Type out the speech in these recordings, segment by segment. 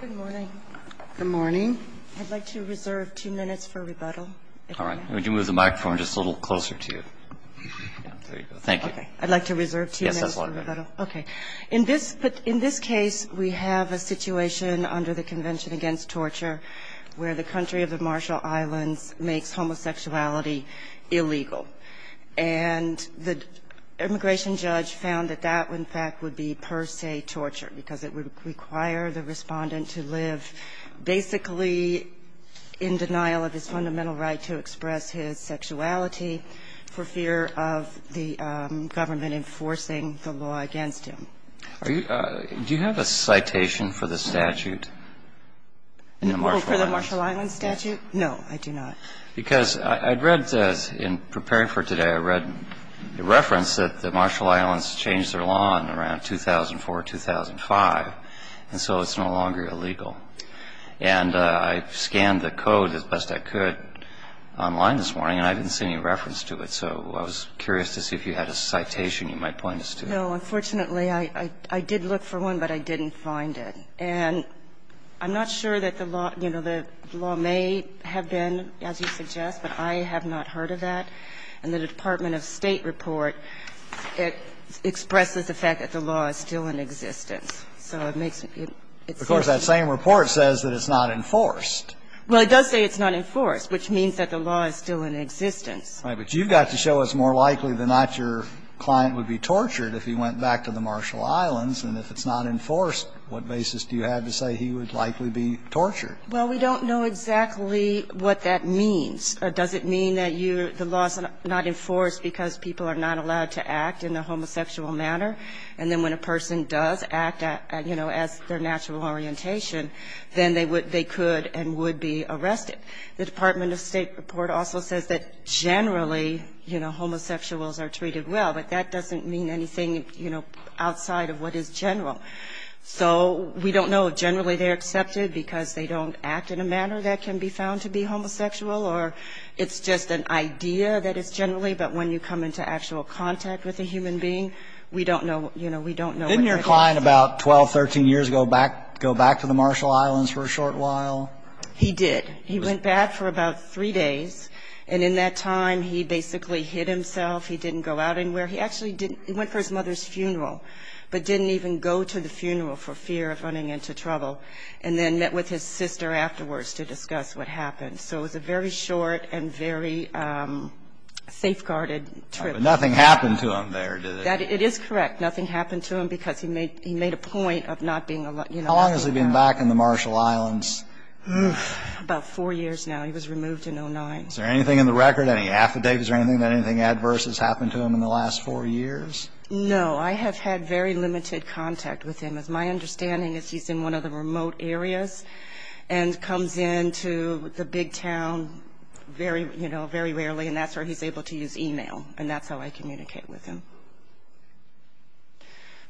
Good morning. Good morning. I'd like to reserve two minutes for rebuttal. All right. Would you move the microphone just a little closer to you? There you go. Thank you. Okay. I'd like to reserve two minutes for rebuttal. Yes, that's a lot better. Okay. In this case, we have a situation under the Convention Against Torture where the country of the Marshall Islands makes homosexuality illegal. And the immigration judge found that that, in fact, would be per se torture because it would require the respondent to live basically in denial of his fundamental right to express his sexuality for fear of the government enforcing the law against him. Do you have a citation for the statute? For the Marshall Islands statute? No, I do not. Because I'd read in preparing for today, I read a reference that the Marshall Islands changed their law in around 2004, 2005, and so it's no longer illegal. And I scanned the code as best I could online this morning, and I didn't see any reference to it. So I was curious to see if you had a citation you might point us to. No, unfortunately, I did look for one, but I didn't find it. And I'm not sure that the law, you know, the law may have been, as you suggest, but I have not heard of that. And the Department of State report, it expresses the fact that the law is still in existence. So it makes it, it's not. Of course, that same report says that it's not enforced. Well, it does say it's not enforced, which means that the law is still in existence. Right. But you've got to show us more likely than not your client would be tortured if he went back to the Marshall Islands, and if it's not enforced, what basis do you have to say he would likely be tortured? Well, we don't know exactly what that means. Does it mean that you, the law is not enforced because people are not allowed to act in a homosexual manner? And then when a person does act, you know, as their natural orientation, then they would, they could and would be arrested. The Department of State report also says that generally, you know, homosexuals are treated well. But that doesn't mean anything, you know, outside of what is general. So we don't know if generally they're accepted because they don't act in a manner that can be found to be homosexual, or it's just an idea that it's generally, but when you come into actual contact with a human being, we don't know, you know, we don't know. Didn't your client, about 12, 13 years ago, go back to the Marshall Islands for a short while? He did. He went back for about three days, and in that time, he basically hid himself. He didn't go out anywhere. He actually didn't, he went for his mother's funeral, but didn't even go to the funeral for fear of running into trouble, and then met with his sister afterwards to discuss what happened. So it was a very short and very safeguarded trip. But nothing happened to him there, did it? It is correct. Nothing happened to him because he made a point of not being allowed, you know, not being allowed. How long has he been back in the Marshall Islands? About four years now. He was removed in 2009. Is there anything in the record, any affidavits or anything, anything adverse? Has happened to him in the last four years? No. I have had very limited contact with him. As my understanding is, he's in one of the remote areas and comes into the big town very, you know, very rarely, and that's where he's able to use e-mail, and that's how I communicate with him.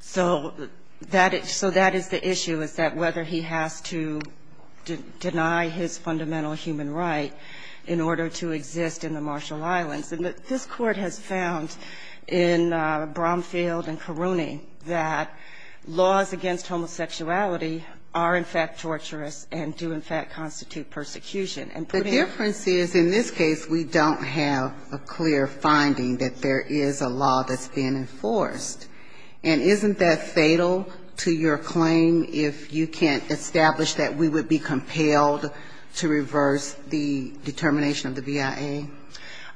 So that is the issue, is that whether he has to deny his fundamental human right in order to exist in the Marshall Islands. And this Court has found in Bromfield and Karuni that laws against homosexuality are, in fact, torturous and do, in fact, constitute persecution. The difference is, in this case, we don't have a clear finding that there is a law that's being enforced. And isn't that fatal to your claim if you can't establish that we would be compelled to reverse the determination of the BIA?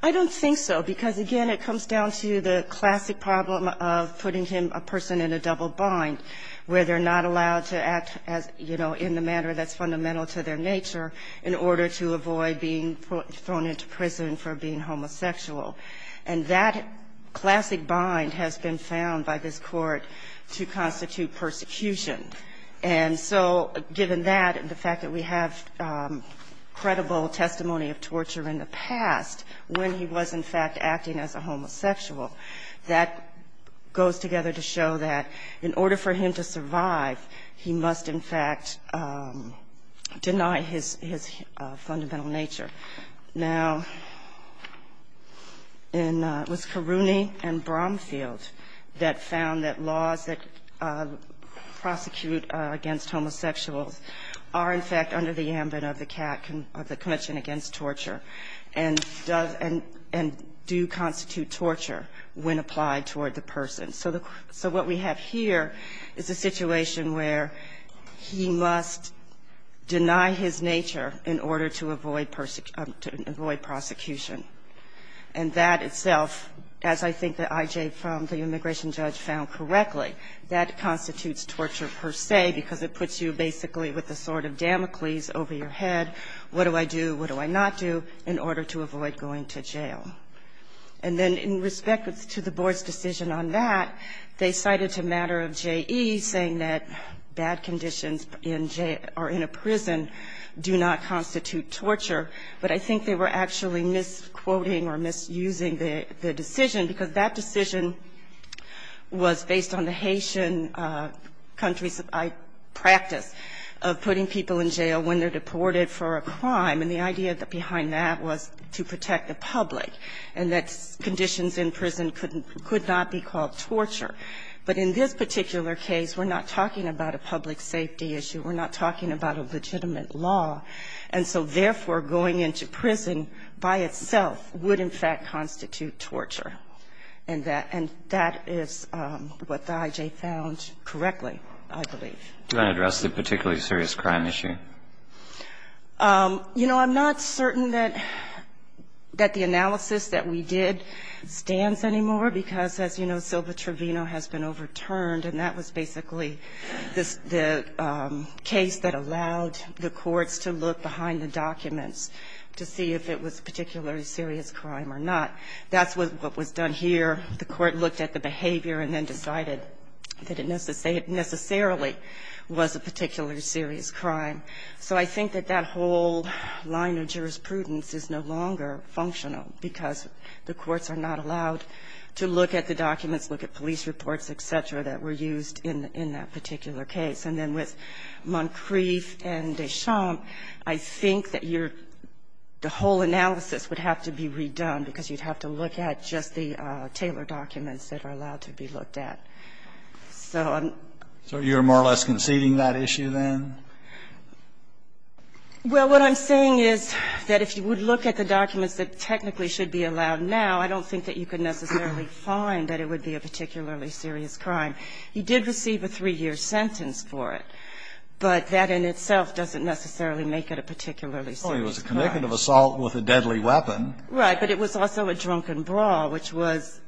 I don't think so, because, again, it comes down to the classic problem of putting him, a person in a double bind, where they're not allowed to act as, you know, in the manner that's fundamental to their nature in order to avoid being thrown into prison for being homosexual. And that classic bind has been found by this Court to constitute persecution. And so given that and the fact that we have credible testimony of torture in the past when he was, in fact, acting as a homosexual, that goes together to show that in order for him to survive, he must, in fact, deny his fundamental nature. Now, it was Karuni and Bromfield that found that laws that prosecute against homosexuals are, in fact, under the ambit of the Convention Against Torture and do constitute torture when applied toward the person. So what we have here is a situation where he must deny his nature in order to avoid persecution. And that itself, as I think that I.J. from the immigration judge found correctly, that constitutes torture per se, because it puts you basically with a sort of Damocles over your head, what do I do, what do I not do in order to avoid going to jail. And then in respect to the Board's decision on that, they cited a matter of J.E. saying that bad conditions in jail or in a prison do not constitute torture, but I think they were actually misquoting or misusing the decision, because that decision was based on the Haitian countries' practice of putting people in jail when they're deported for a crime. And the idea behind that was to protect the public and that conditions in prison could not be called torture. But in this particular case, we're not talking about a public safety issue. We're not talking about a legitimate law. And so, therefore, going into prison by itself would in fact constitute torture. And that is what the I.J. found correctly, I believe. Do you want to address the particularly serious crime issue? You know, I'm not certain that the analysis that we did stands anymore, because, as you know, Silva Trevino has been overturned, and that was basically the case that allowed the courts to look behind the documents to see if it was a particularly serious crime or not. That's what was done here. The court looked at the behavior and then decided that it necessarily was a particularly serious crime. So I think that that whole line of jurisprudence is no longer functional, because the courts are not allowed to look at the documents, look at police reports, et cetera, that were used in that particular case. And then with Moncrief and Deschamps, I think that you're the whole analysis would have to be redone, because you'd have to look at just the Taylor documents that are allowed to be looked at. So I'm. So you're more or less conceding that issue then? Well, what I'm saying is that if you would look at the documents that technically should be allowed now, I don't think that you could necessarily find that it would be a particularly serious crime. You did receive a three-year sentence for it, but that in itself doesn't necessarily make it a particularly serious crime. Well, it was a connective assault with a deadly weapon. Right. But it was also a drunken brawl, which was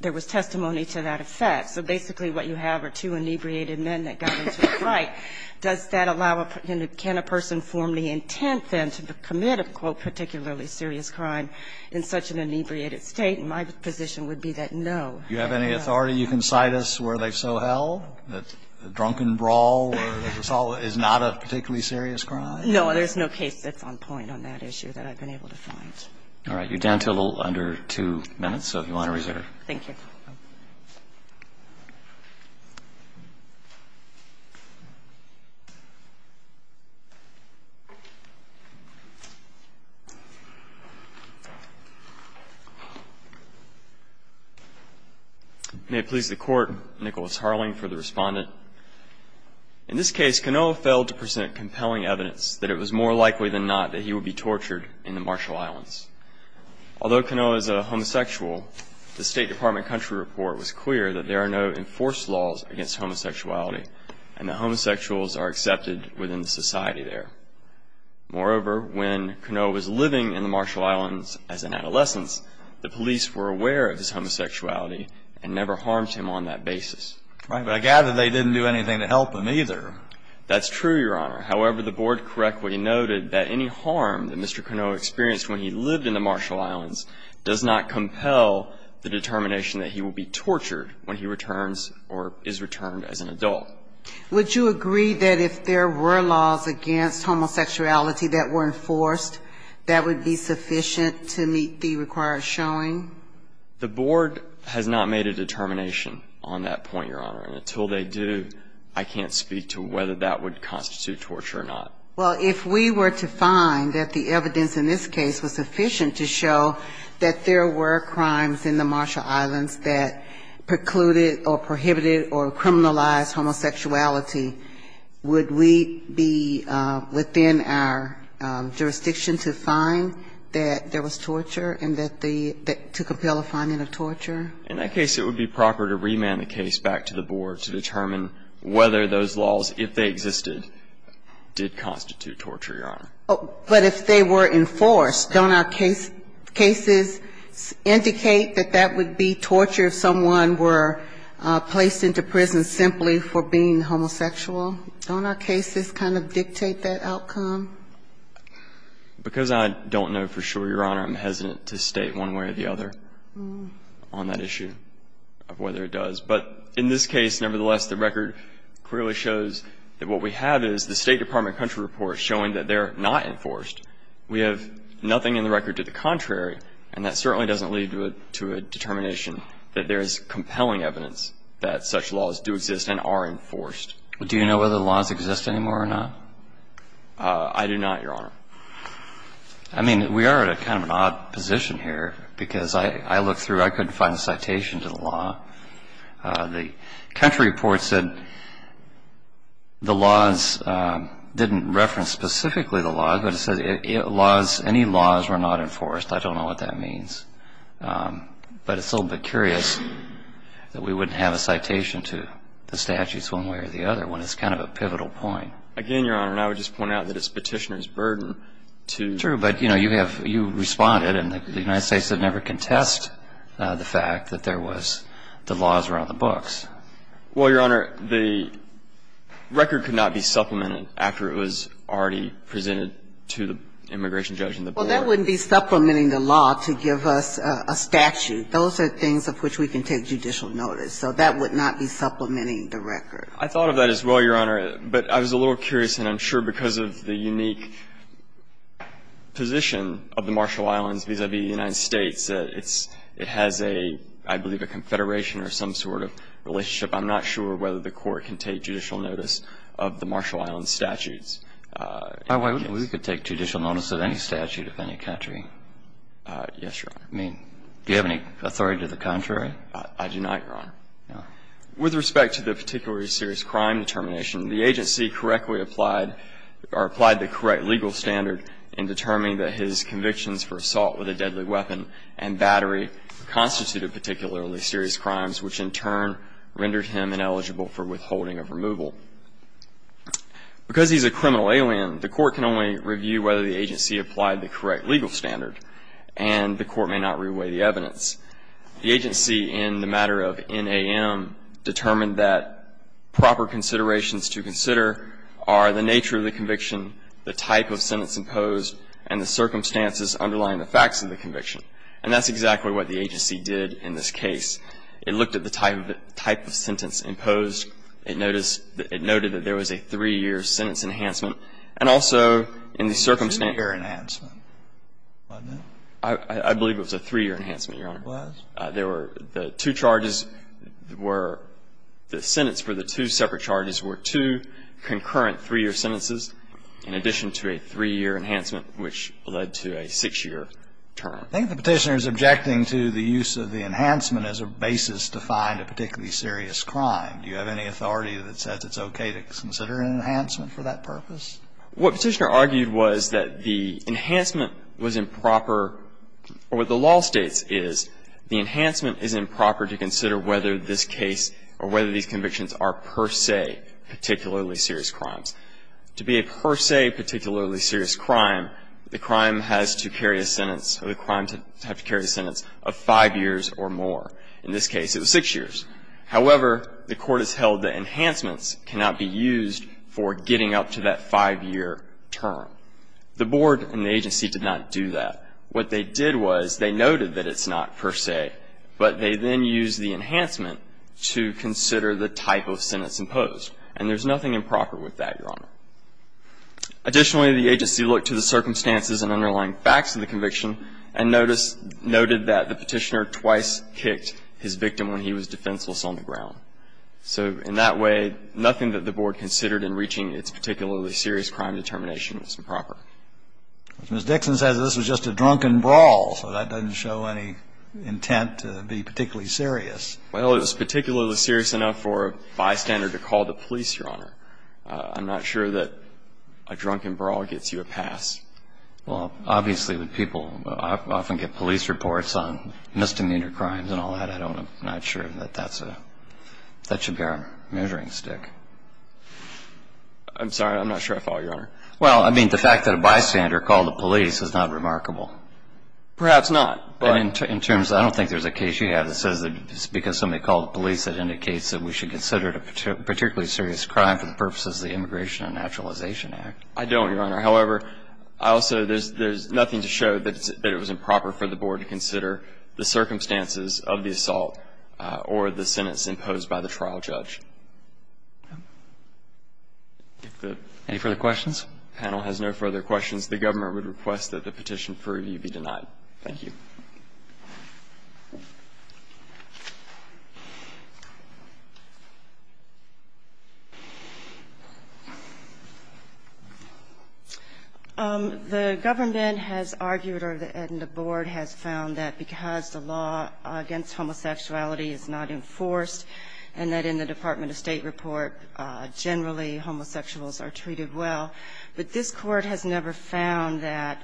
there was testimony to that effect. So basically what you have are two inebriated men that got into a fight. Does that allow a person, can a person form the intent then to commit a, quote, particularly serious crime in such an inebriated state? And my position would be that no. Do you have any authority? You can cite us where they so held that the drunken brawl or the assault is not a particularly serious crime? No. There's no case that's on point on that issue that I've been able to find. All right. You're down to a little under two minutes, so if you want to reserve. Thank you. May it please the Court, Nicholas Harling for the respondent. In this case, Kanoa failed to present compelling evidence that it was more likely than not that he would be tortured in the Marshall Islands. Although Kanoa is a homosexual, the State Department country report was clear that there are no enforced laws against homosexuality and that homosexuals are accepted within the society there. Moreover, when Kanoa was living in the Marshall Islands as an adolescence, the police were aware of his homosexuality and never harmed him on that basis. Right. But I gather they didn't do anything to help him either. That's true, Your Honor. However, the board correctly noted that any harm that Mr. Kanoa received in the Marshall Islands does not compel the determination that he will be tortured when he returns or is returned as an adult. Would you agree that if there were laws against homosexuality that were enforced, that would be sufficient to meet the required showing? The board has not made a determination on that point, Your Honor, and until they do, I can't speak to whether that would constitute torture or not. Well, if we were to find that the evidence in this case was sufficient to show that there were crimes in the Marshall Islands that precluded or prohibited or criminalized homosexuality, would we be within our jurisdiction to find that there was torture and that the to compel a finding of torture? In that case, it would be proper to remand the case back to the board to determine whether those laws, if they existed, did constitute torture, Your Honor. But if they were enforced, don't our cases indicate that that would be torture if someone were placed into prison simply for being homosexual? Don't our cases kind of dictate that outcome? Because I don't know for sure, Your Honor, I'm hesitant to state one way or the other on that issue of whether it does. But in this case, nevertheless, the record clearly shows that what we have is the State Department country report showing that they're not enforced. We have nothing in the record to the contrary, and that certainly doesn't lead to a determination that there is compelling evidence that such laws do exist and are enforced. Do you know whether the laws exist anymore or not? I do not, Your Honor. I mean, we are at a kind of an odd position here because I looked through. I couldn't find a citation to the law. The country report said the laws didn't reference specifically the laws, but it said any laws were not enforced. I don't know what that means. But it's a little bit curious that we wouldn't have a citation to the statutes one way or the other when it's kind of a pivotal point. Again, Your Honor, I would just point out that it's Petitioner's burden to ---- True, but, you know, you have responded, and the United States would never contest the fact that there was the laws around the books. Well, Your Honor, the record could not be supplemented after it was already presented to the immigration judge and the board. Well, that wouldn't be supplementing the law to give us a statute. Those are things of which we can take judicial notice. So that would not be supplementing the record. I thought of that as well, Your Honor. But I was a little curious, and I'm sure because of the unique position of the Marshall Islands vis-à-vis the United States, it has a, I believe, a confederation or some sort of relationship. I'm not sure whether the Court can take judicial notice of the Marshall Islands statutes. We could take judicial notice of any statute of any country. Yes, Your Honor. I mean, do you have any authority to the contrary? I do not, Your Honor. With respect to the particularly serious crime determination, the agency correctly applied or applied the correct legal standard in determining that his convictions for assault with a deadly weapon and battery constituted particularly serious crimes, which in turn rendered him ineligible for withholding of removal. Because he's a criminal alien, the Court can only review whether the agency applied the correct legal standard, and the Court may not reweigh the evidence. The agency, in the matter of NAM, determined that proper considerations to consider are the nature of the conviction, the type of sentence imposed, and the circumstances underlying the facts of the conviction. And that's exactly what the agency did in this case. It looked at the type of sentence imposed. It noticed that there was a three-year sentence enhancement. And also, in the circumstance. Three-year enhancement, wasn't it? I believe it was a three-year enhancement, Your Honor. It was. The two charges were the sentence for the two separate charges were two concurrent three-year sentences in addition to a three-year enhancement, which led to a six-year term. I think the Petitioner is objecting to the use of the enhancement as a basis to find a particularly serious crime. Do you have any authority that says it's okay to consider an enhancement for that purpose? What Petitioner argued was that the enhancement was improper, or what the law states is the enhancement is improper to consider whether this case or whether these convictions are per se particularly serious crimes. To be a per se particularly serious crime, the crime has to carry a sentence, or the crime has to carry a sentence of five years or more. In this case, it was six years. However, the Court has held that enhancements cannot be used for getting up to that five-year term. The Board and the agency did not do that. What they did was they noted that it's not per se, but they then used the enhancement to consider the type of sentence imposed. And there's nothing improper with that, Your Honor. Additionally, the agency looked to the circumstances and underlying facts of the conviction and noted that the Petitioner twice kicked his victim when he was defenseless on the ground. So in that way, nothing that the Board considered in reaching its particularly serious crime determination was improper. Mr. Dixon says this was just a drunken brawl, so that doesn't show any intent to be particularly serious. Well, it was particularly serious enough for a bystander to call the police, Your Honor. I'm not sure that a drunken brawl gets you a pass. Well, obviously, when people often get police reports on misdemeanor crimes and all that, I'm not sure that that should be our measuring stick. I'm sorry. I'm not sure I follow, Your Honor. Well, I mean, the fact that a bystander called the police is not remarkable. Perhaps not. In terms of that, I don't think there's a case you have that says that because somebody called the police, it indicates that we should consider it a particularly serious crime for the purposes of the Immigration and Naturalization Act. I don't, Your Honor. However, I also, there's nothing to show that it was improper for the Board to consider the circumstances of the assault or the sentence imposed by the trial judge. Any further questions? If the panel has no further questions, the Government would request that the petition for review be denied. Thank you. The Government has argued, or the Board has found, that because the law against homosexuality is not enforced, and that in the Department of State report, generally homosexuals are treated well, but this Court has never found that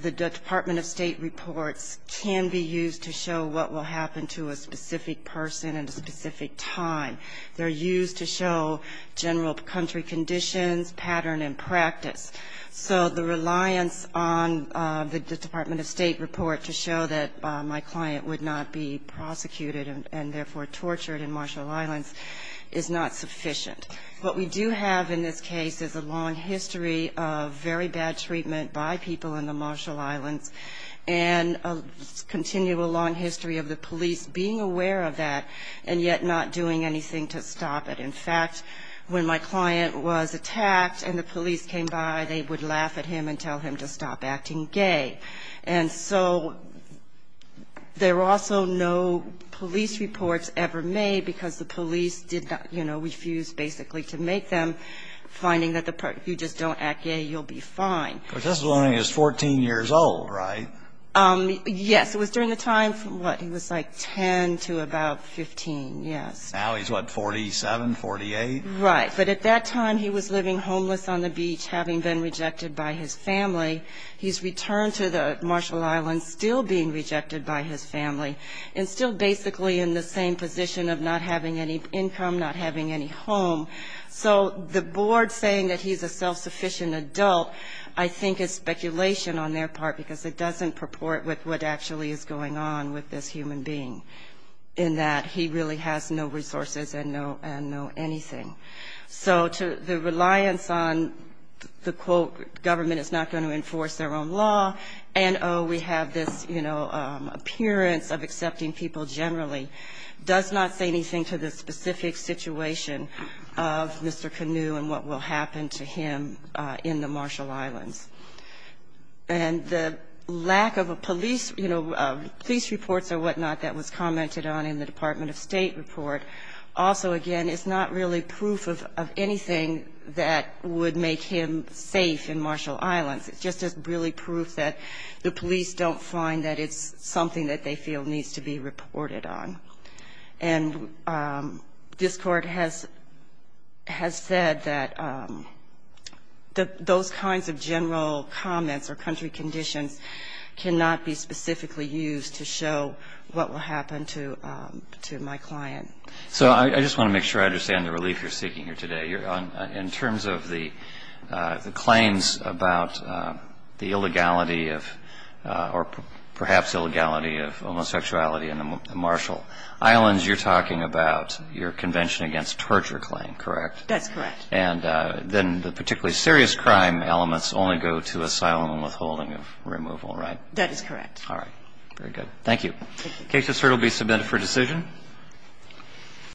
the Department of State reports can be used to show what will happen to a specific person at a specific time. They're used to show general country conditions, pattern, and practice. So the reliance on the Department of State report to show that my client would not be prosecuted and, therefore, tortured in Marshall Islands is not sufficient. What we do have in this case is a long history of very bad treatment by people in the continual long history of the police being aware of that, and yet not doing anything to stop it. In fact, when my client was attacked and the police came by, they would laugh at him and tell him to stop acting gay. And so there were also no police reports ever made because the police did not, you know, refused basically to make them, finding that if you just don't act gay, you'll be fine. But this is when he was 14 years old, right? Yes. It was during the time from, what, he was like 10 to about 15, yes. Now he's, what, 47, 48? Right. But at that time, he was living homeless on the beach, having been rejected by his family. He's returned to the Marshall Islands, still being rejected by his family, and still basically in the same position of not having any income, not having any home. So the board saying that he's a self-sufficient adult, I think, is speculation on their part, because it doesn't purport with what actually is going on with this human being, in that he really has no resources and no anything. So the reliance on the, quote, government is not going to enforce their own law, and, oh, we have this, you know, appearance of accepting people generally, does not say much about the nature of Mr. Canoe and what will happen to him in the Marshall Islands. And the lack of a police, you know, police reports or whatnot that was commented on in the Department of State report also, again, is not really proof of anything that would make him safe in Marshall Islands. It's just as really proof that the police don't find that it's something that they feel needs to be reported on. And this Court has said that those kinds of general comments or country conditions cannot be specifically used to show what will happen to my client. So I just want to make sure I understand the relief you're seeking here today. In terms of the claims about the illegality of, or perhaps illegality of homosexuality in the Marshall Islands, you're talking about your convention against torture claim, correct? That's correct. And then the particularly serious crime elements only go to asylum and withholding of removal, right? That is correct. All right. Very good. Thank you. Thank you. The case is here to be submitted for decision.